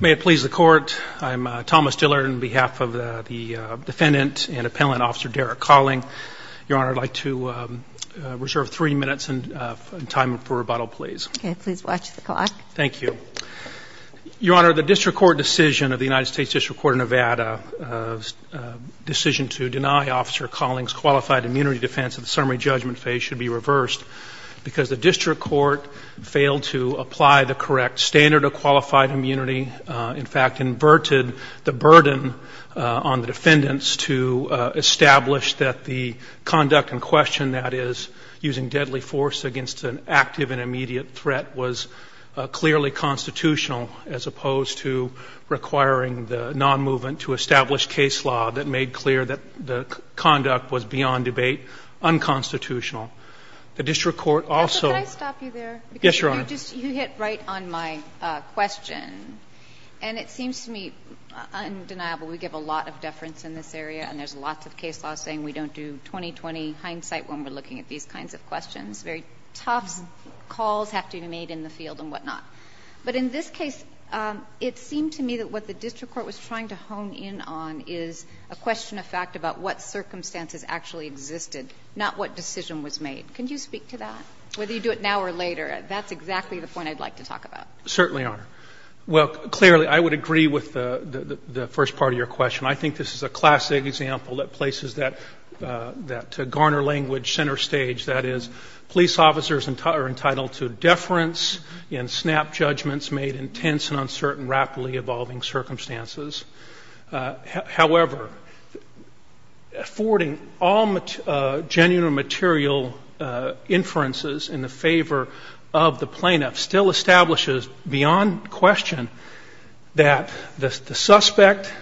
May it please the Court, I'm Thomas Dillard on behalf of the defendant and appellant, Officer Derek Colling. Your Honor, I'd like to reserve three minutes in time for rebuttal, please. Okay, please watch the clock. Thank you. Your Honor, the District Court decision of the United States District Court of Nevada's decision to deny Officer Colling's qualified immunity defense of the summary judgment phase should be reversed because the District Court failed to apply the correct standard of qualified immunity. In fact, inverted the burden on the defendants to establish that the conduct in question, that is, using deadly force against an active and immediate threat, was clearly constitutional as opposed to requiring the non-movement to establish case law that made clear that the conduct was beyond debate unconstitutional. The District Court was trying to hone in on is a question of fact about what circumstances actually existed, not what decision was made. Can you speak to that? Whether you do it now or later, that's exactly the point I'd like to make. Certainly, Your Honor. Well, clearly, I would agree with the first part of your question. I think this is a classic example that places that Garner language center stage, that is, police officers are entitled to deference and snap judgments made in tense and uncertain, rapidly evolving circumstances. However, affording all genuine or material inferences in the favor of the plaintiff still establishes beyond question that the suspect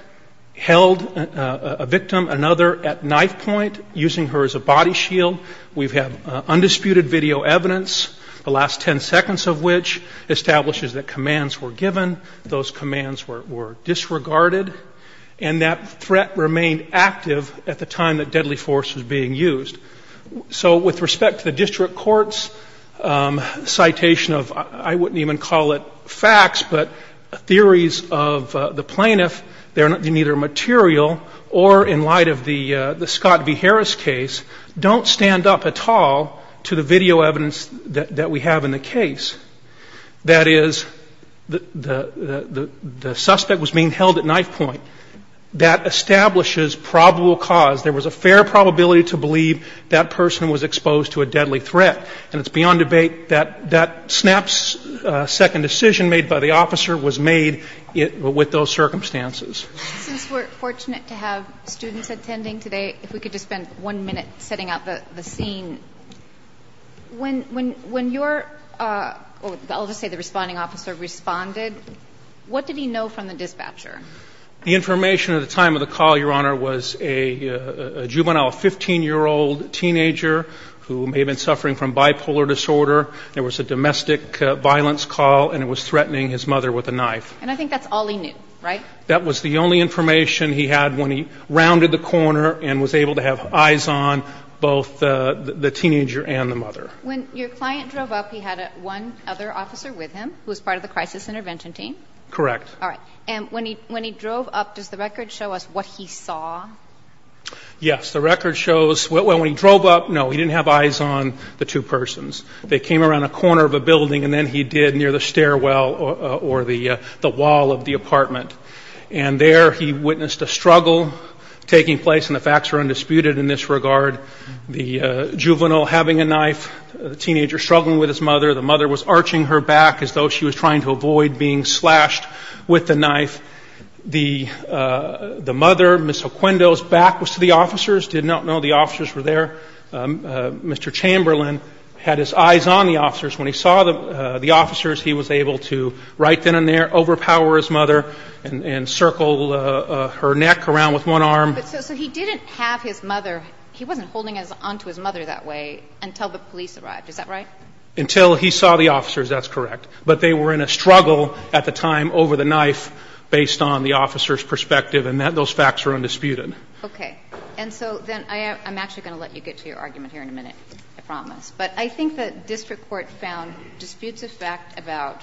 held a victim, another, at knife point, using her as a body shield. We've had undisputed video evidence, the last ten seconds of which establishes that commands were given, those commands were disregarded, and that threat remained active at the time that deadly force was being used. So with respect to the District Court's citation of, I wouldn't even call it facts, but theories of the plaintiff, they're neither material or in light of the Scott v. Harris case, don't stand up at all to the video evidence that we have in the case. That is, the suspect was being held at knife point. That establishes probable cause. There was a fair probability to believe that person was exposed to a deadly threat. And it's a snap second decision made by the officer was made with those circumstances. Since we're fortunate to have students attending today, if we could just spend one minute setting out the scene. When your, I'll just say the responding officer, responded, what did he know from the dispatcher? The information at the time of the call, Your Honor, was a juvenile 15-year-old teenager who may have been suffering from bipolar disorder. There was a domestic violence call, and it was threatening his mother with a knife. And I think that's all he knew, right? That was the only information he had when he rounded the corner and was able to have eyes on both the teenager and the mother. When your client drove up, he had one other officer with him who was part of the crisis intervention team? Correct. All right. And when he drove up, does the record show us what he saw? Yes. The record shows, well, when he drove up, no, he didn't have eyes on the two persons. They came around a corner of a building, and then he did near the stairwell or the wall of the apartment. And there he witnessed a struggle taking place, and the facts are undisputed in this regard. The juvenile having a knife, the teenager struggling with his mother, the mother was arching her back as though she was trying to avoid being slashed with the knife. The mother, Ms. Oquendo's back was to the officers, did not know the officers were there. Mr. Chamberlain had his eyes on the officers. When he saw the officers, he was able to, right then and there, overpower his mother and circle her neck around with one arm. So he didn't have his mother, he wasn't holding onto his mother that way until the police arrived, is that right? Until he saw the officers, that's correct. But they were in a struggle at the time over the knife based on the officer's perspective, and those facts are undisputed. Okay. And so then I'm actually going to let you get to your argument here in a minute, I promise. But I think the district court found disputes of fact about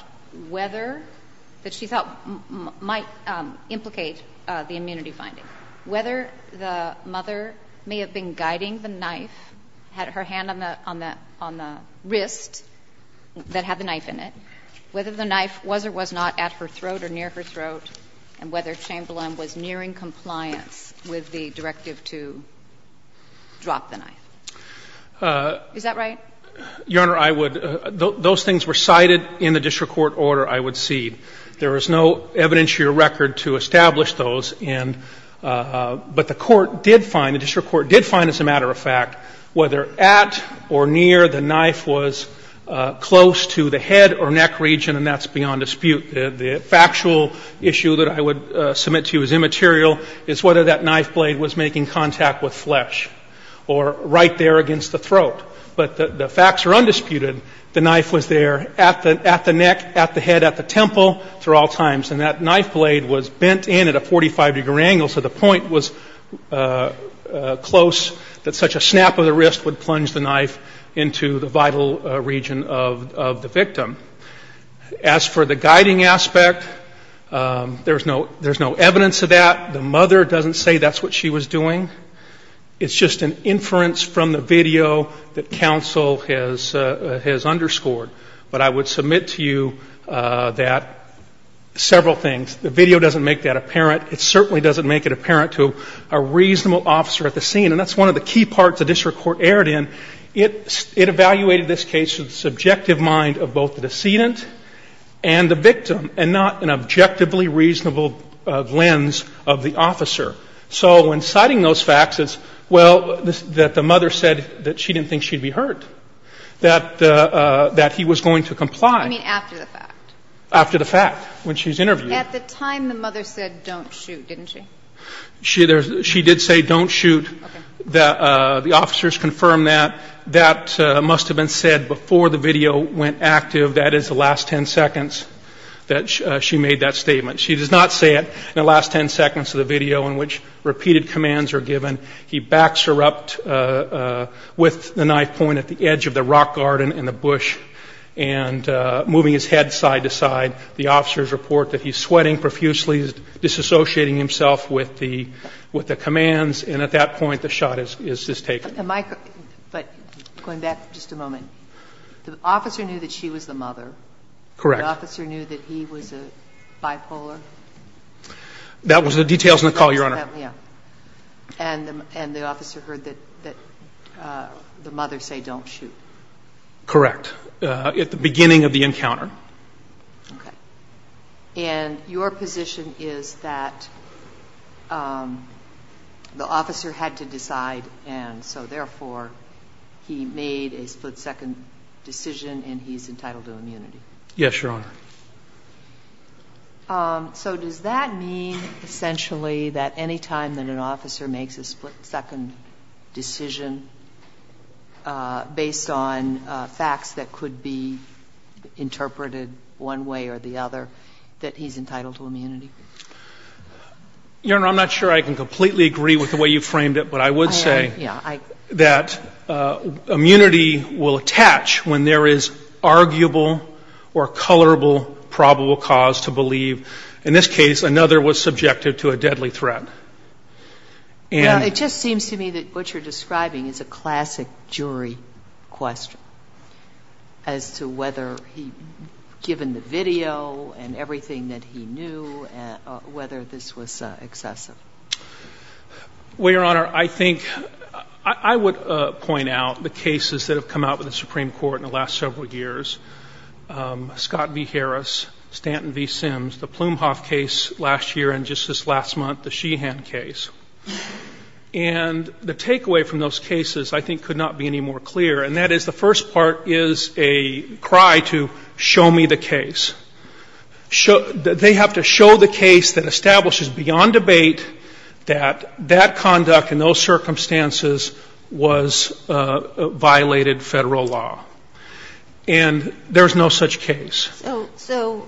whether, that she thought might implicate the immunity finding, whether the mother may have been guiding the knife, had her hand on the wrist that had the knife at her throat or near her throat, and whether Chamberlain was nearing compliance with the directive to drop the knife. Is that right? Your Honor, I would — those things were cited in the district court order, I would cede. There is no evidence to your record to establish those, and — but the court did find, the district court did find, as a matter of fact, whether at or near the knife was close to the head or neck region, and that's beyond dispute. The factual issue that I would submit to you as immaterial is whether that knife blade was making contact with flesh or right there against the throat. But the facts are undisputed. The knife was there at the neck, at the head, at the temple through all times, and that knife blade was bent in at a 45-degree angle, so the point was close that such a snap of the wrist would plunge the knife into the vital region of the victim. As for the guiding aspect, there's no evidence of that. The mother doesn't say that's what she was doing. It's just an inference from the video that counsel has underscored. But I would submit to you that several things. The video doesn't make that apparent. It certainly doesn't make it apparent to a reasonable officer at the scene, and that's one of the key parts the district court erred in. It evaluated this case with the subjective mind of both the decedent and the victim, and not an objectively reasonable lens of the officer. So when citing those facts, it's, well, that the mother said that she didn't think she'd be hurt, that he was going to comply. I mean, after the fact. After the fact, when she's interviewed. At the time, the mother said, don't shoot, didn't she? She did say don't shoot. The officers confirmed that. That must have been said before the video went active. That is the last ten seconds that she made that statement. She does not say it in the last ten seconds of the video in which repeated commands are given. He backs her up with the knife point at the edge of the rock garden in the bush and moving his head side to side. The officers report that he's sweating profusely, disassociating himself with the commands, and at that point, the shot is taken. Am I correct? But going back just a moment, the officer knew that she was the mother. Correct. The officer knew that he was a bipolar? That was the details in the call, Your Honor. Yeah. And the officer heard that the mother say don't shoot? Correct. At the beginning of the encounter. Okay. And your position is that the officer had to decide, and so, therefore, he made a split-second decision and he's entitled to immunity? Yes, Your Honor. So does that mean, essentially, that any time that an officer makes a split- second decision, he's being interpreted one way or the other, that he's entitled to immunity? Your Honor, I'm not sure I can completely agree with the way you framed it, but I would say that immunity will attach when there is arguable or colorable probable cause to believe, in this case, another was subjected to a deadly threat. Well, it just seems to me that what you're describing is a classic jury question as to whether he, given the video and everything that he knew, whether this was excessive. Well, Your Honor, I think I would point out the cases that have come out with the Supreme Court in the last several years, Scott v. Harris, Stanton v. Sims, the Plumhoff case last year and just this last month, the Sheehan case. And the takeaway from those cases I think could not be any more clear, and that is the first part is a cry to show me the case. They have to show the case that establishes beyond debate that that conduct in those circumstances was violated Federal law. And there's no such case. So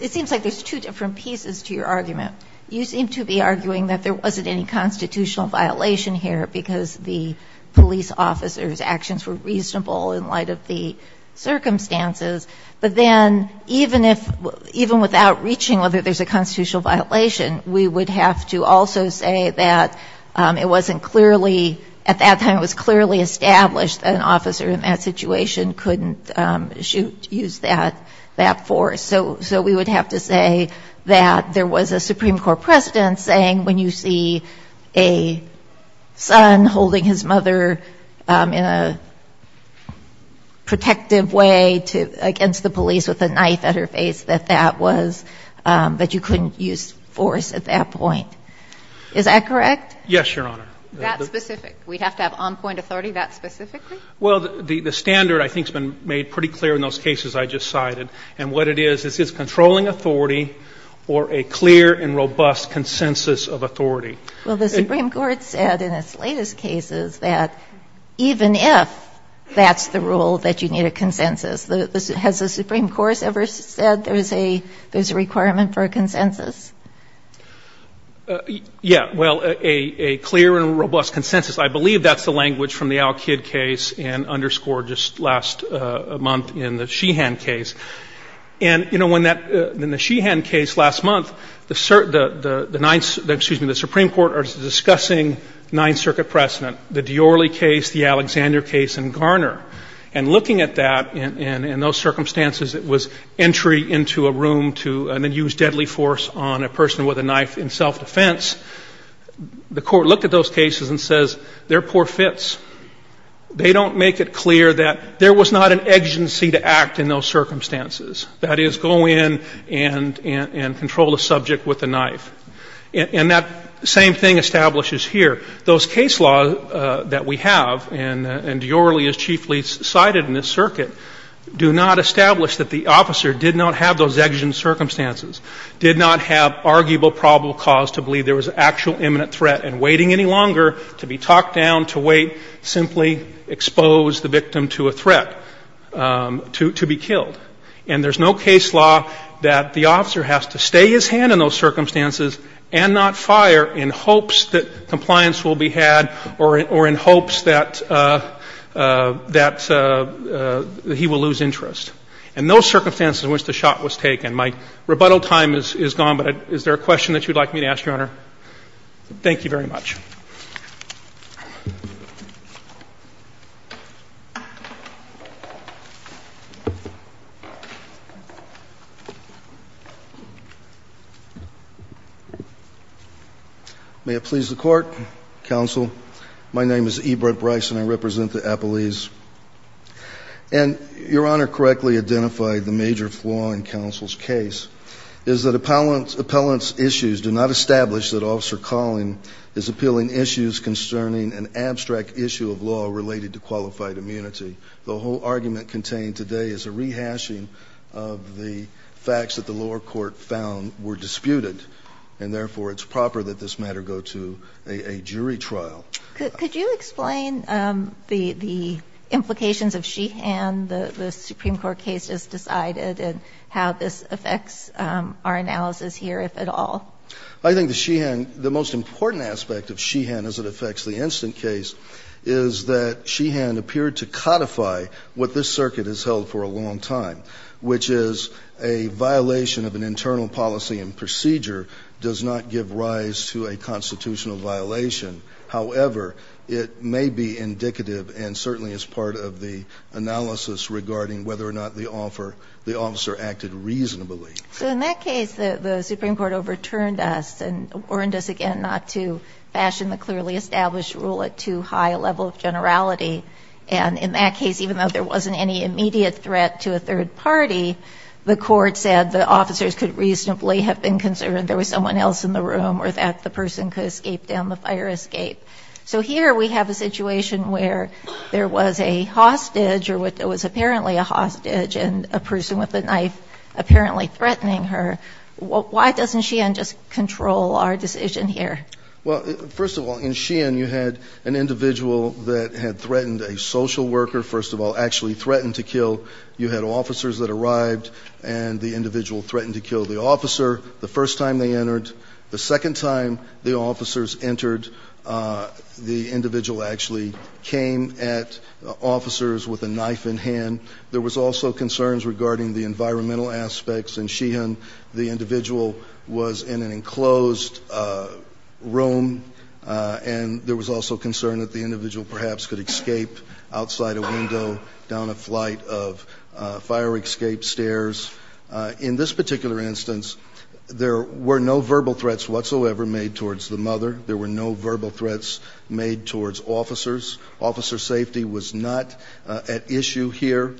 it seems like there's two different pieces to your argument. You seem to be arguing that there wasn't any constitutional violation here because the police officer's actions were reasonable in light of the circumstances. But then even without reaching whether there's a constitutional violation, we would have to also say that it wasn't clearly, at that time it was clearly established that an officer in that situation couldn't use that force. So we would have to say that there was a Supreme Court precedent saying when you see a son holding his mother in a protective way against the police with a knife at her face, that that was, that you couldn't use force at that point. Is that correct? Yes, Your Honor. That specific? We'd have to have on-point authority that specifically? Well, the standard I think has been made pretty clear in those cases I just cited. And what it is, is it's controlling authority or a clear and robust consensus of authority. Well, the Supreme Court said in its latest cases that even if that's the rule, that you need a consensus. Has the Supreme Court ever said there's a requirement for a consensus? Yeah. Well, a clear and robust consensus. I believe that's the language from the Al-Kid case and underscored just last month in the Sheehan case. And, you know, when that, in the Sheehan case last month, the Ninth, excuse me, the Supreme Court was discussing Ninth Circuit precedent, the Diorley case, the Alexander case in Garner. And looking at that and those circumstances, it was entry into a room to, and then use deadly force on a person with a knife in self-defense. The Court looked at those cases and says they're poor fits. They don't make it clear that there was not an exigency to act in those circumstances. That is, go in and control a subject with a knife. And that same thing establishes here. Those case laws that we have, and Diorley is chiefly cited in this circuit, do not establish that the officer did not have those exigent circumstances, did not have arguable probable cause to believe there was an actual imminent threat, and waiting any longer to be talked down, to wait, simply expose the victim to a threat, to be killed. And there's no case law that the officer has to stay his hand in those circumstances and not fire in hopes that compliance will be had or in hopes that he will lose interest. And those circumstances in which the shot was taken, my rebuttal time is gone, Your Honor. Thank you very much. May it please the Court, Counsel. My name is Ebert Bryson. I represent the appellees. And Your Honor correctly identified the major flaw in Counsel's case, is that the fact that the lower court found were disputed and, therefore, it's proper that this matter go to a jury trial. Could you explain the implications of Sheehan, the Supreme Court case, as decided and how this affects our analysis here, if at all? The most important aspect of Sheehan, as it affects the instant case, is that Sheehan appeared to codify what this circuit has held for a long time, which is a violation of an internal policy and procedure does not give rise to a constitutional violation. However, it may be indicative and certainly is part of the analysis regarding whether or not the officer acted reasonably. So in that case, the Supreme Court overturned us and warned us again not to fashion the clearly established rule at too high a level of generality. And in that case, even though there wasn't any immediate threat to a third party, the Court said the officers could reasonably have been concerned there was someone else in the room or that the person could escape down the fire escape. So here we have a situation where there was a hostage or there was apparently a hostage and a person with a knife apparently threatening her. Why doesn't Sheehan just control our decision here? Well, first of all, in Sheehan you had an individual that had threatened a social worker, first of all, actually threatened to kill. You had officers that arrived and the individual threatened to kill the officer the first time they entered. The second time the officers entered, the individual actually came at officers with a knife in hand. There was also concerns regarding the environmental aspects. In Sheehan, the individual was in an enclosed room and there was also concern that the individual perhaps could escape outside a window down a flight of fire escape stairs. In this particular instance, there were no verbal threats whatsoever made towards the mother. There were no verbal threats made towards officers. Officer safety was not at issue here.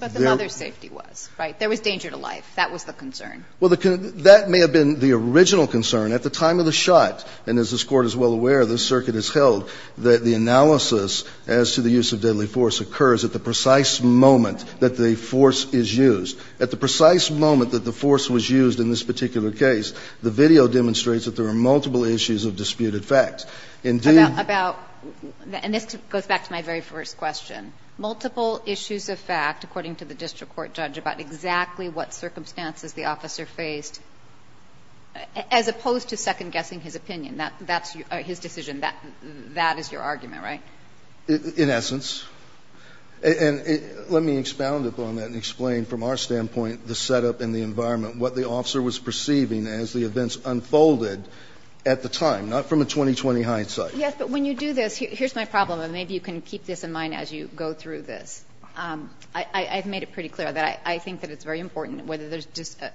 But the mother's safety was, right? There was danger to life. That was the concern. Well, that may have been the original concern. At the time of the shot, and as this Court is well aware, this circuit has held that the analysis as to the use of deadly force occurs at the precise moment that the force is used. At the precise moment that the force was used in this particular case, the video demonstrates that there are multiple issues of disputed facts. And this goes back to my very first question. Multiple issues of fact, according to the district court judge, about exactly what circumstances the officer faced, as opposed to second-guessing his opinion. That's his decision. That is your argument, right? In essence. And let me expound upon that and explain from our standpoint the setup and the environment, what the officer was perceiving as the events unfolded at the time, not from a 20-20 hindsight. Yes, but when you do this, here's my problem, and maybe you can keep this in mind as you go through this. I've made it pretty clear that I think that it's very important whether there's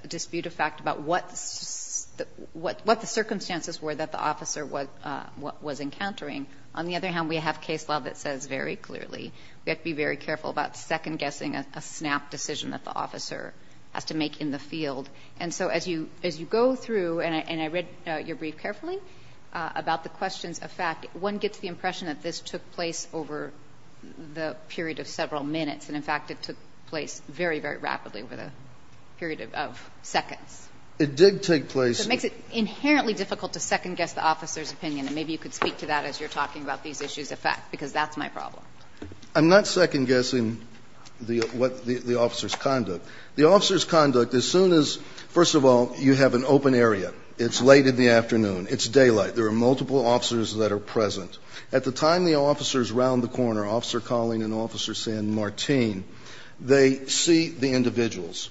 dispute of fact about what the circumstances were that the officer was encountering. On the other hand, we have case law that says very clearly we have to be very careful about second-guessing a snap decision that the officer has to make in the field. And so as you go through, and I read your brief carefully about the questions of fact, one gets the impression that this took place over the period of several minutes, and in fact it took place very, very rapidly over the period of seconds. It did take place. It makes it inherently difficult to second-guess the officer's opinion. And maybe you could speak to that as you're talking about these issues of fact, because that's my problem. I'm not second-guessing the officer's conduct. The officer's conduct, as soon as, first of all, you have an open area. It's late in the afternoon. It's daylight. There are multiple officers that are present. At the time the officer is around the corner, Officer Colling and Officer San Martin, they see the individuals.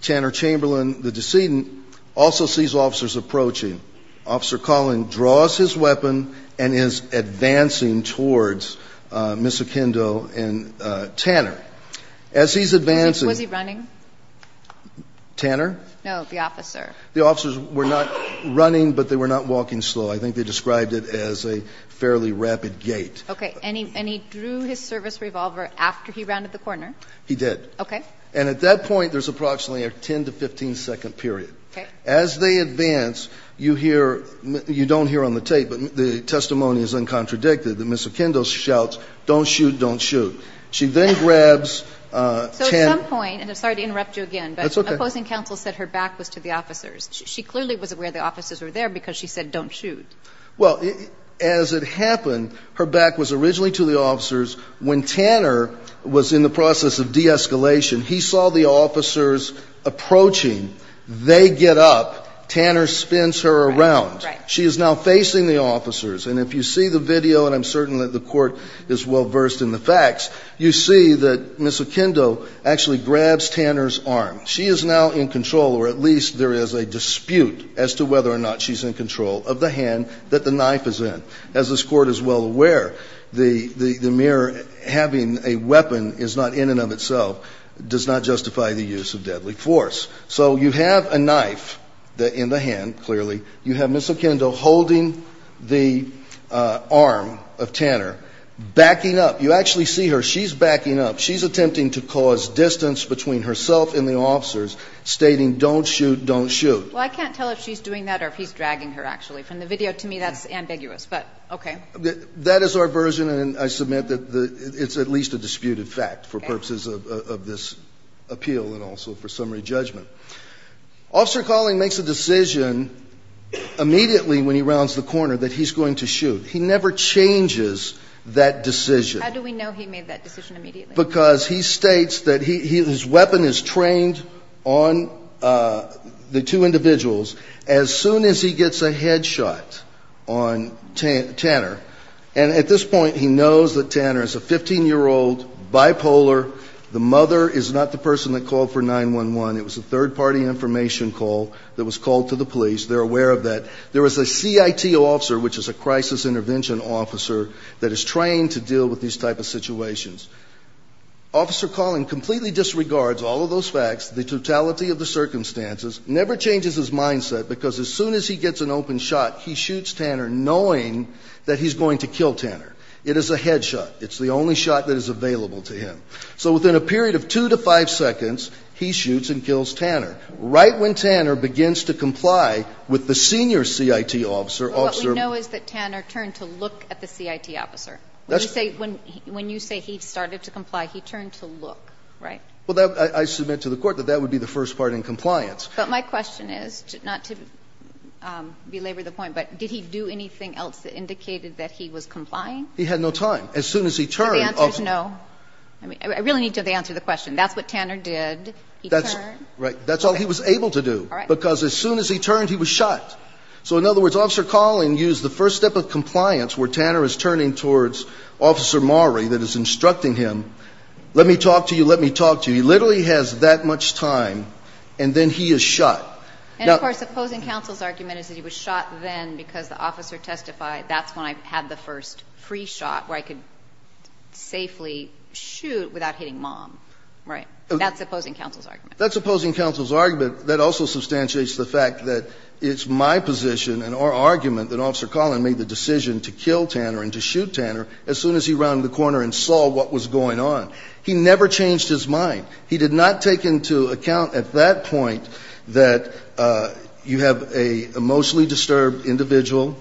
Tanner Chamberlain, the decedent, also sees officers approaching. Officer Colling draws his weapon and is advancing towards Ms. Aquindo and Tanner. As he's advancing. Was he running? Tanner? No, the officer. The officers were not running, but they were not walking slow. I think they described it as a fairly rapid gait. Okay. And he drew his service revolver after he rounded the corner? He did. Okay. And at that point, there's approximately a 10 to 15-second period. Okay. As they advance, you hear you don't hear on the tape, but the testimony is uncontradicted, that Ms. Aquindo shouts, don't shoot, don't shoot. She then grabs Tanner. So at some point, and I'm sorry to interrupt you again. That's okay. But opposing counsel said her back was to the officers. She clearly was aware the officers were there because she said don't shoot. Well, as it happened, her back was originally to the officers. When Tanner was in the process of de-escalation, he saw the officers approaching. They get up. Tanner spins her around. Right. She is now facing the officers. And if you see the video, and I'm certain that the Court is well versed in the facts, you see that Ms. Aquindo actually grabs Tanner's arm. She is now in control, or at least there is a dispute as to whether or not she's in control of the hand that the knife is in. As this Court is well aware, the mere having a weapon is not in and of itself, does not justify the use of deadly force. So you have a knife in the hand, clearly. You have Ms. Aquindo holding the arm of Tanner, backing up. You actually see her. She's backing up. She's attempting to cause distance between herself and the officers, stating don't shoot, don't shoot. Well, I can't tell if she's doing that or if he's dragging her, actually. From the video, to me, that's ambiguous. But okay. That is our version, and I submit that it's at least a disputed fact for purposes of this appeal and also for summary judgment. Officer Colling makes a decision immediately when he rounds the corner that he's going to shoot. He never changes that decision. How do we know he made that decision immediately? Because he states that his weapon is trained on the two individuals as soon as he gets a head shot on Tanner. And at this point, he knows that Tanner is a 15-year-old, bipolar. The mother is not the person that called for 911. It was a third-party information call that was called to the police. They're aware of that. There is a CIT officer, which is a crisis intervention officer, that is trained to deal with these type of situations. Officer Colling completely disregards all of those facts, the totality of the circumstances, never changes his mindset because as soon as he gets an open shot, he shoots Tanner, knowing that he's going to kill Tanner. It is a head shot. It's the only shot that is available to him. So within a period of 2 to 5 seconds, he shoots and kills Tanner. Right when Tanner begins to comply with the senior CIT officer, Officer ---- But what we know is that Tanner turned to look at the CIT officer. That's right. When you say he started to comply, he turned to look, right? Well, I submit to the Court that that would be the first part in compliance. But my question is, not to belabor the point, but did he do anything else that indicated that he was complying? He had no time. As soon as he turned ---- The answer is no. I really need to answer the question. That's what Tanner did. He turned. Right. That's all he was able to do. All right. Because as soon as he turned, he was shot. So in other words, Officer Colling used the first step of compliance where Tanner is turning towards Officer Maury that is instructing him, let me talk to you, let me talk to you. He literally has that much time, and then he is shot. Now ---- And, of course, opposing counsel's argument is that he was shot then because the officer testified, that's when I had the first free shot where I could safely shoot without hitting mom. Right. That's opposing counsel's argument. That's opposing counsel's argument that also substantiates the fact that it's my position and our argument that Officer Colling made the decision to kill Tanner and to shoot Tanner as soon as he rounded the corner and saw what was going on. He never changed his mind. He did not take into account at that point that you have a mostly disturbed individual,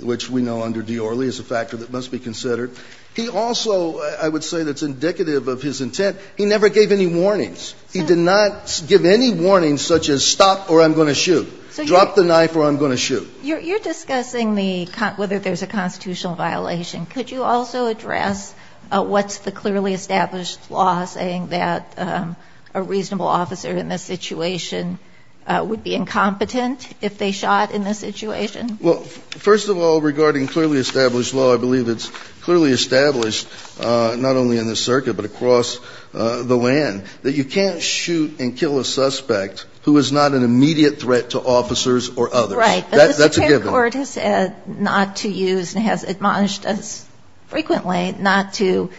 which we know under Diorly is a factor that must be considered. He also, I would say that's indicative of his intent, he never gave any warnings. He did not give any warnings such as stop or I'm going to shoot, drop the knife or I'm going to shoot. You're discussing the ---- whether there's a constitutional violation. Could you also address what's the clearly established law saying that a reasonable officer in this situation would be incompetent if they shot in this situation? Well, first of all, regarding clearly established law, I believe it's clearly established, not only in this circuit but across the land, that you can't shoot and kill a suspect who is not an immediate threat to officers or others. Right. That's a given. But the Supreme Court has said not to use and has admonished us frequently not to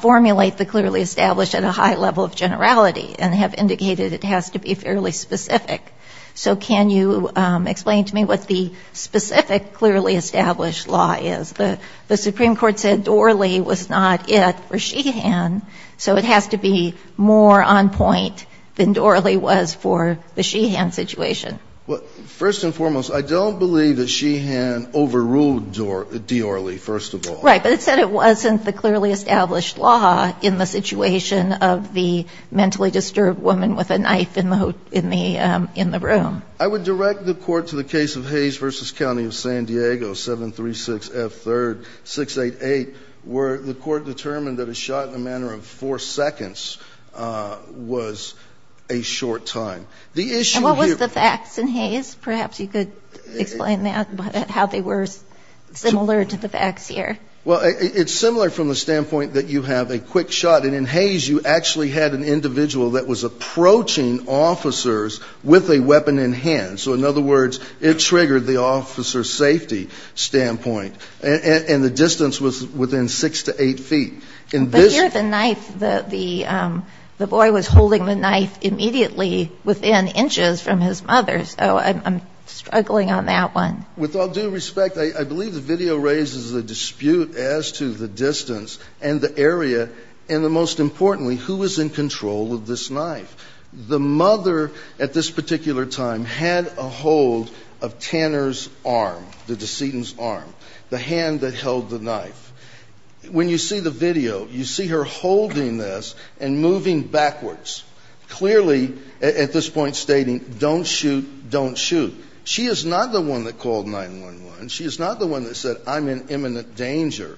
formulate the clearly established at a high level of generality and have indicated it has to be fairly specific. So can you explain to me what the specific clearly established law is? The Supreme Court said Diorly was not it for Sheehan, so it has to be more on point than Diorly was for the Sheehan situation. Well, first and foremost, I don't believe that Sheehan overruled Diorly, first of all. Right. But it said it wasn't the clearly established law in the situation of the mentally disturbed woman with a knife in the room. I would direct the Court to the case of Hayes v. County of San Diego, 736F3-688, where the Court determined that a shot in a matter of four seconds was a short time. And what was the facts in Hayes? Perhaps you could explain that, how they were similar to the facts here. Well, it's similar from the standpoint that you have a quick shot. And in Hayes, you actually had an individual that was approaching officers with a weapon in hand. So in other words, it triggered the officer's safety standpoint. And the distance was within six to eight feet. But here, the knife, the boy was holding the knife immediately within inches from his mother. So I'm struggling on that one. With all due respect, I believe the video raises a dispute as to the distance and the area and, most importantly, who was in control of this knife. The mother at this particular time had a hold of Tanner's arm, the decedent's arm, the hand that held the knife. When you see the video, you see her holding this and moving backwards, clearly at this point stating, don't shoot, don't shoot. She is not the one that called 911. She is not the one that said, I'm in imminent danger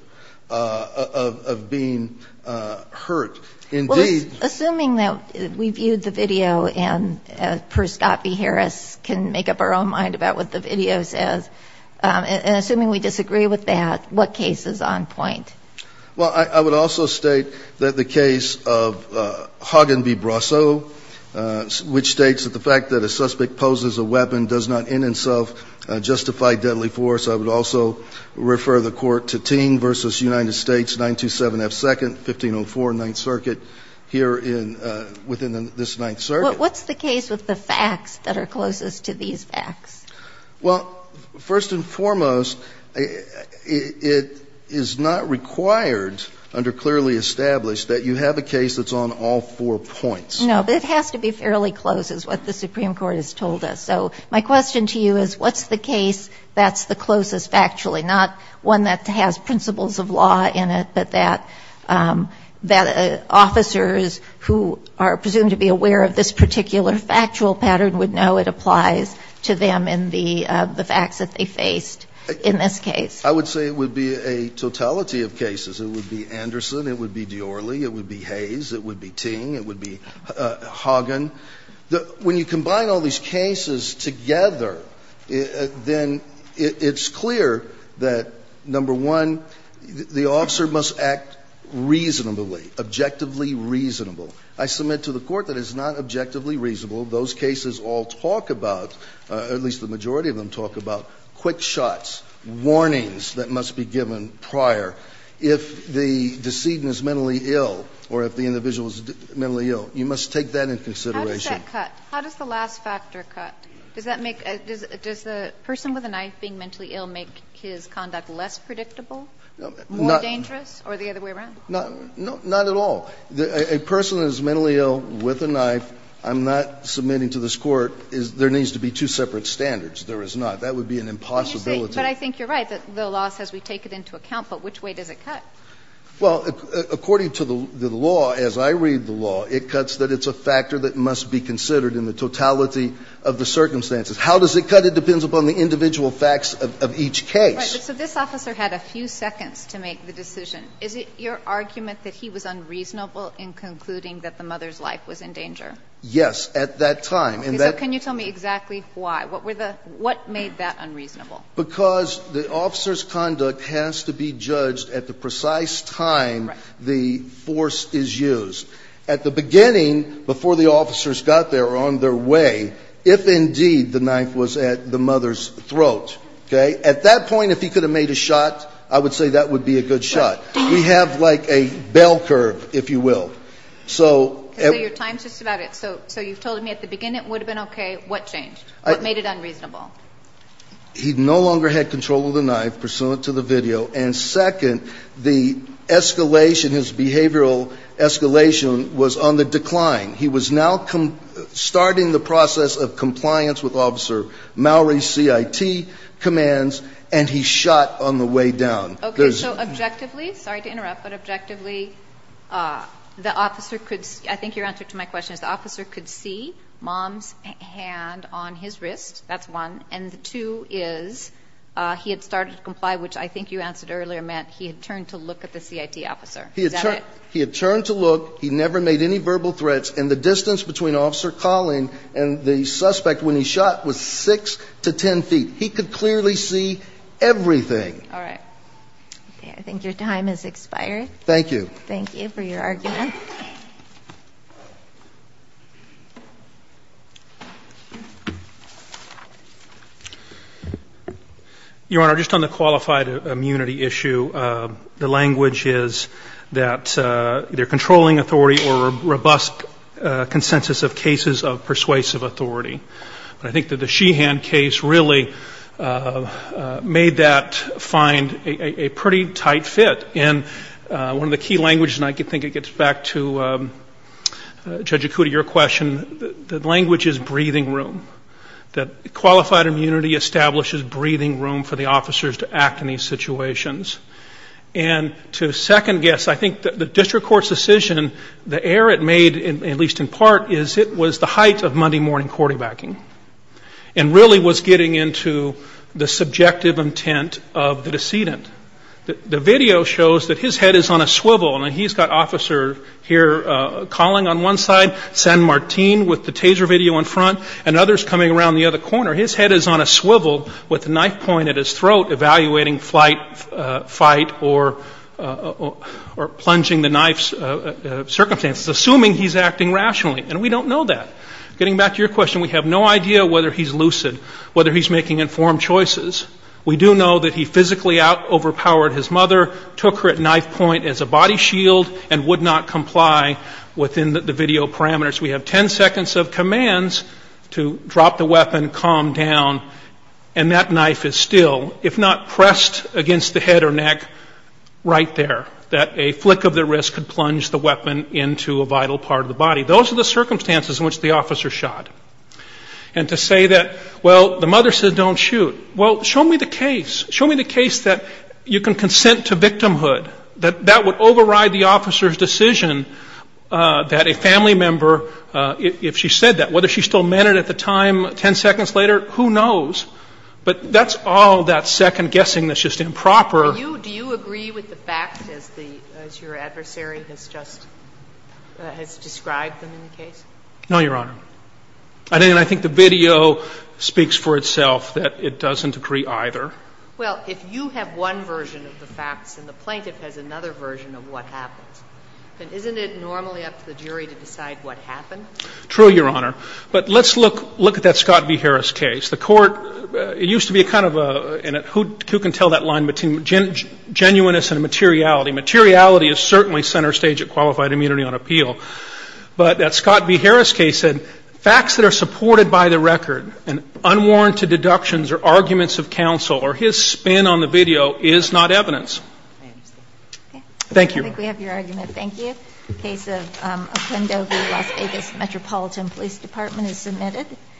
of being hurt. Indeed ---- Well, assuming that we viewed the video and, per Scott V. Harris, can make up our own mind about what the video says, and assuming we disagree with that, what case is on point? Well, I would also state that the case of Hagen v. Brasso, which states that the fact that a suspect poses a weapon does not in itself justify deadly force. I would also refer the Court to Teen v. United States, 927 F. 2nd, 1504 Ninth Circuit, here within this Ninth Circuit. What's the case with the facts that are closest to these facts? Well, first and foremost, it is not required under clearly established that you have a case that's on all four points. No, but it has to be fairly close is what the Supreme Court has told us. So my question to you is what's the case that's the closest factually, not one that has principles of law in it, but that officers who are presumed to be aware of this particular factual pattern would know it applies to them in the facts that they faced in this case? I would say it would be a totality of cases. It would be Anderson. It would be Diorly. It would be Hayes. It would be Ting. It would be Hagen. When you combine all these cases together, then it's clear that, number one, the officer must act reasonably, objectively reasonable. I submit to the Court that it's not objectively reasonable. Those cases all talk about, at least the majority of them talk about, quick shots, warnings that must be given prior. If the decedent is mentally ill or if the individual is mentally ill, you must take that into consideration. How does that cut? How does the last factor cut? Does that make the person with a knife being mentally ill make his conduct less predictable, more dangerous, or the other way around? No, not at all. A person that is mentally ill with a knife, I'm not submitting to this Court, there needs to be two separate standards. There is not. That would be an impossibility. But I think you're right. The law says we take it into account. But which way does it cut? Well, according to the law, as I read the law, it cuts that it's a factor that must be considered in the totality of the circumstances. How does it cut? It depends upon the individual facts of each case. Right. So this officer had a few seconds to make the decision. Is it your argument that he was unreasonable in concluding that the mother's life was in danger? Yes, at that time. Okay. So can you tell me exactly why? What made that unreasonable? Because the officer's conduct has to be judged at the precise time the force is used. At the beginning, before the officers got there or on their way, if indeed the knife was at the mother's throat, okay? At that point, if he could have made a shot, I would say that would be a good shot. We have like a bell curve, if you will. So your time's just about up. So you've told me at the beginning it would have been okay. What changed? What made it unreasonable? He no longer had control of the knife pursuant to the video. And second, the escalation, his behavioral escalation was on the decline. He was now starting the process of compliance with Officer Maori's CIT commands, and he shot on the way down. Okay, so objectively, sorry to interrupt, but objectively, I think your answer to my question is the officer could see mom's hand on his wrist. That's one. And the two is he had started to comply, which I think you answered earlier meant he had turned to look at the CIT officer. Is that it? He had turned to look. He never made any verbal threats. And the distance between officer calling and the suspect when he shot was 6 to 10 feet. He could clearly see everything. All right. Okay, I think your time has expired. Thank you. Thank you for your argument. Your Honor, just on the qualified immunity issue, the language is that they're controlling authority or robust consensus of cases of persuasive authority. But I think that the Sheehan case really made that find a pretty tight fit. And one of the key languages, and I think it gets back to Judge Ikuda, your question, the language is breathing room, that qualified immunity establishes breathing room for the officers to act in these situations. And to second guess, I think the district court's decision, the error it made, at least in part, is it was the height of Monday morning quarterbacking and really was getting into the subjective intent of the decedent. The video shows that his head is on a swivel, and he's got officer here calling on one side, San Martin with the taser video in front, and others coming around the other corner. His head is on a swivel with a knife point at his throat evaluating fight or plunging the knife's circumstances, assuming he's acting rationally. And we don't know that. Getting back to your question, we have no idea whether he's lucid, whether he's making informed choices. We do know that he physically out-overpowered his mother, took her at knife point as a body shield, and would not comply within the video parameters. We have 10 seconds of commands to drop the weapon, calm down, and that knife is still. If not pressed against the head or neck, right there, that a flick of the wrist could plunge the weapon into a vital part of the body. Those are the circumstances in which the officer shot. And to say that, well, the mother said don't shoot. Well, show me the case. Show me the case that you can consent to victimhood, that that would override the officer's decision that a family member, if she said that, whether she still meant it at the time, 10 seconds later, who knows? But that's all that second-guessing that's just improper. Do you agree with the fact, as your adversary has just described them in the case? No, Your Honor. And I think the video speaks for itself that it doesn't agree either. Well, if you have one version of the facts and the plaintiff has another version of what happened, then isn't it normally up to the jury to decide what happened? True, Your Honor. But let's look at that Scott v. Harris case. The court, it used to be kind of a, who can tell that line between genuineness and materiality? Materiality is certainly center stage of qualified immunity on appeal. But that Scott v. Harris case said facts that are supported by the record and unwarranted deductions or arguments of counsel or his spin on the video is not evidence. I understand. Thank you, Your Honor. I think we have your argument. Thank you. Case of Oquendo v. Las Vegas, Metropolitan Police Department is submitted.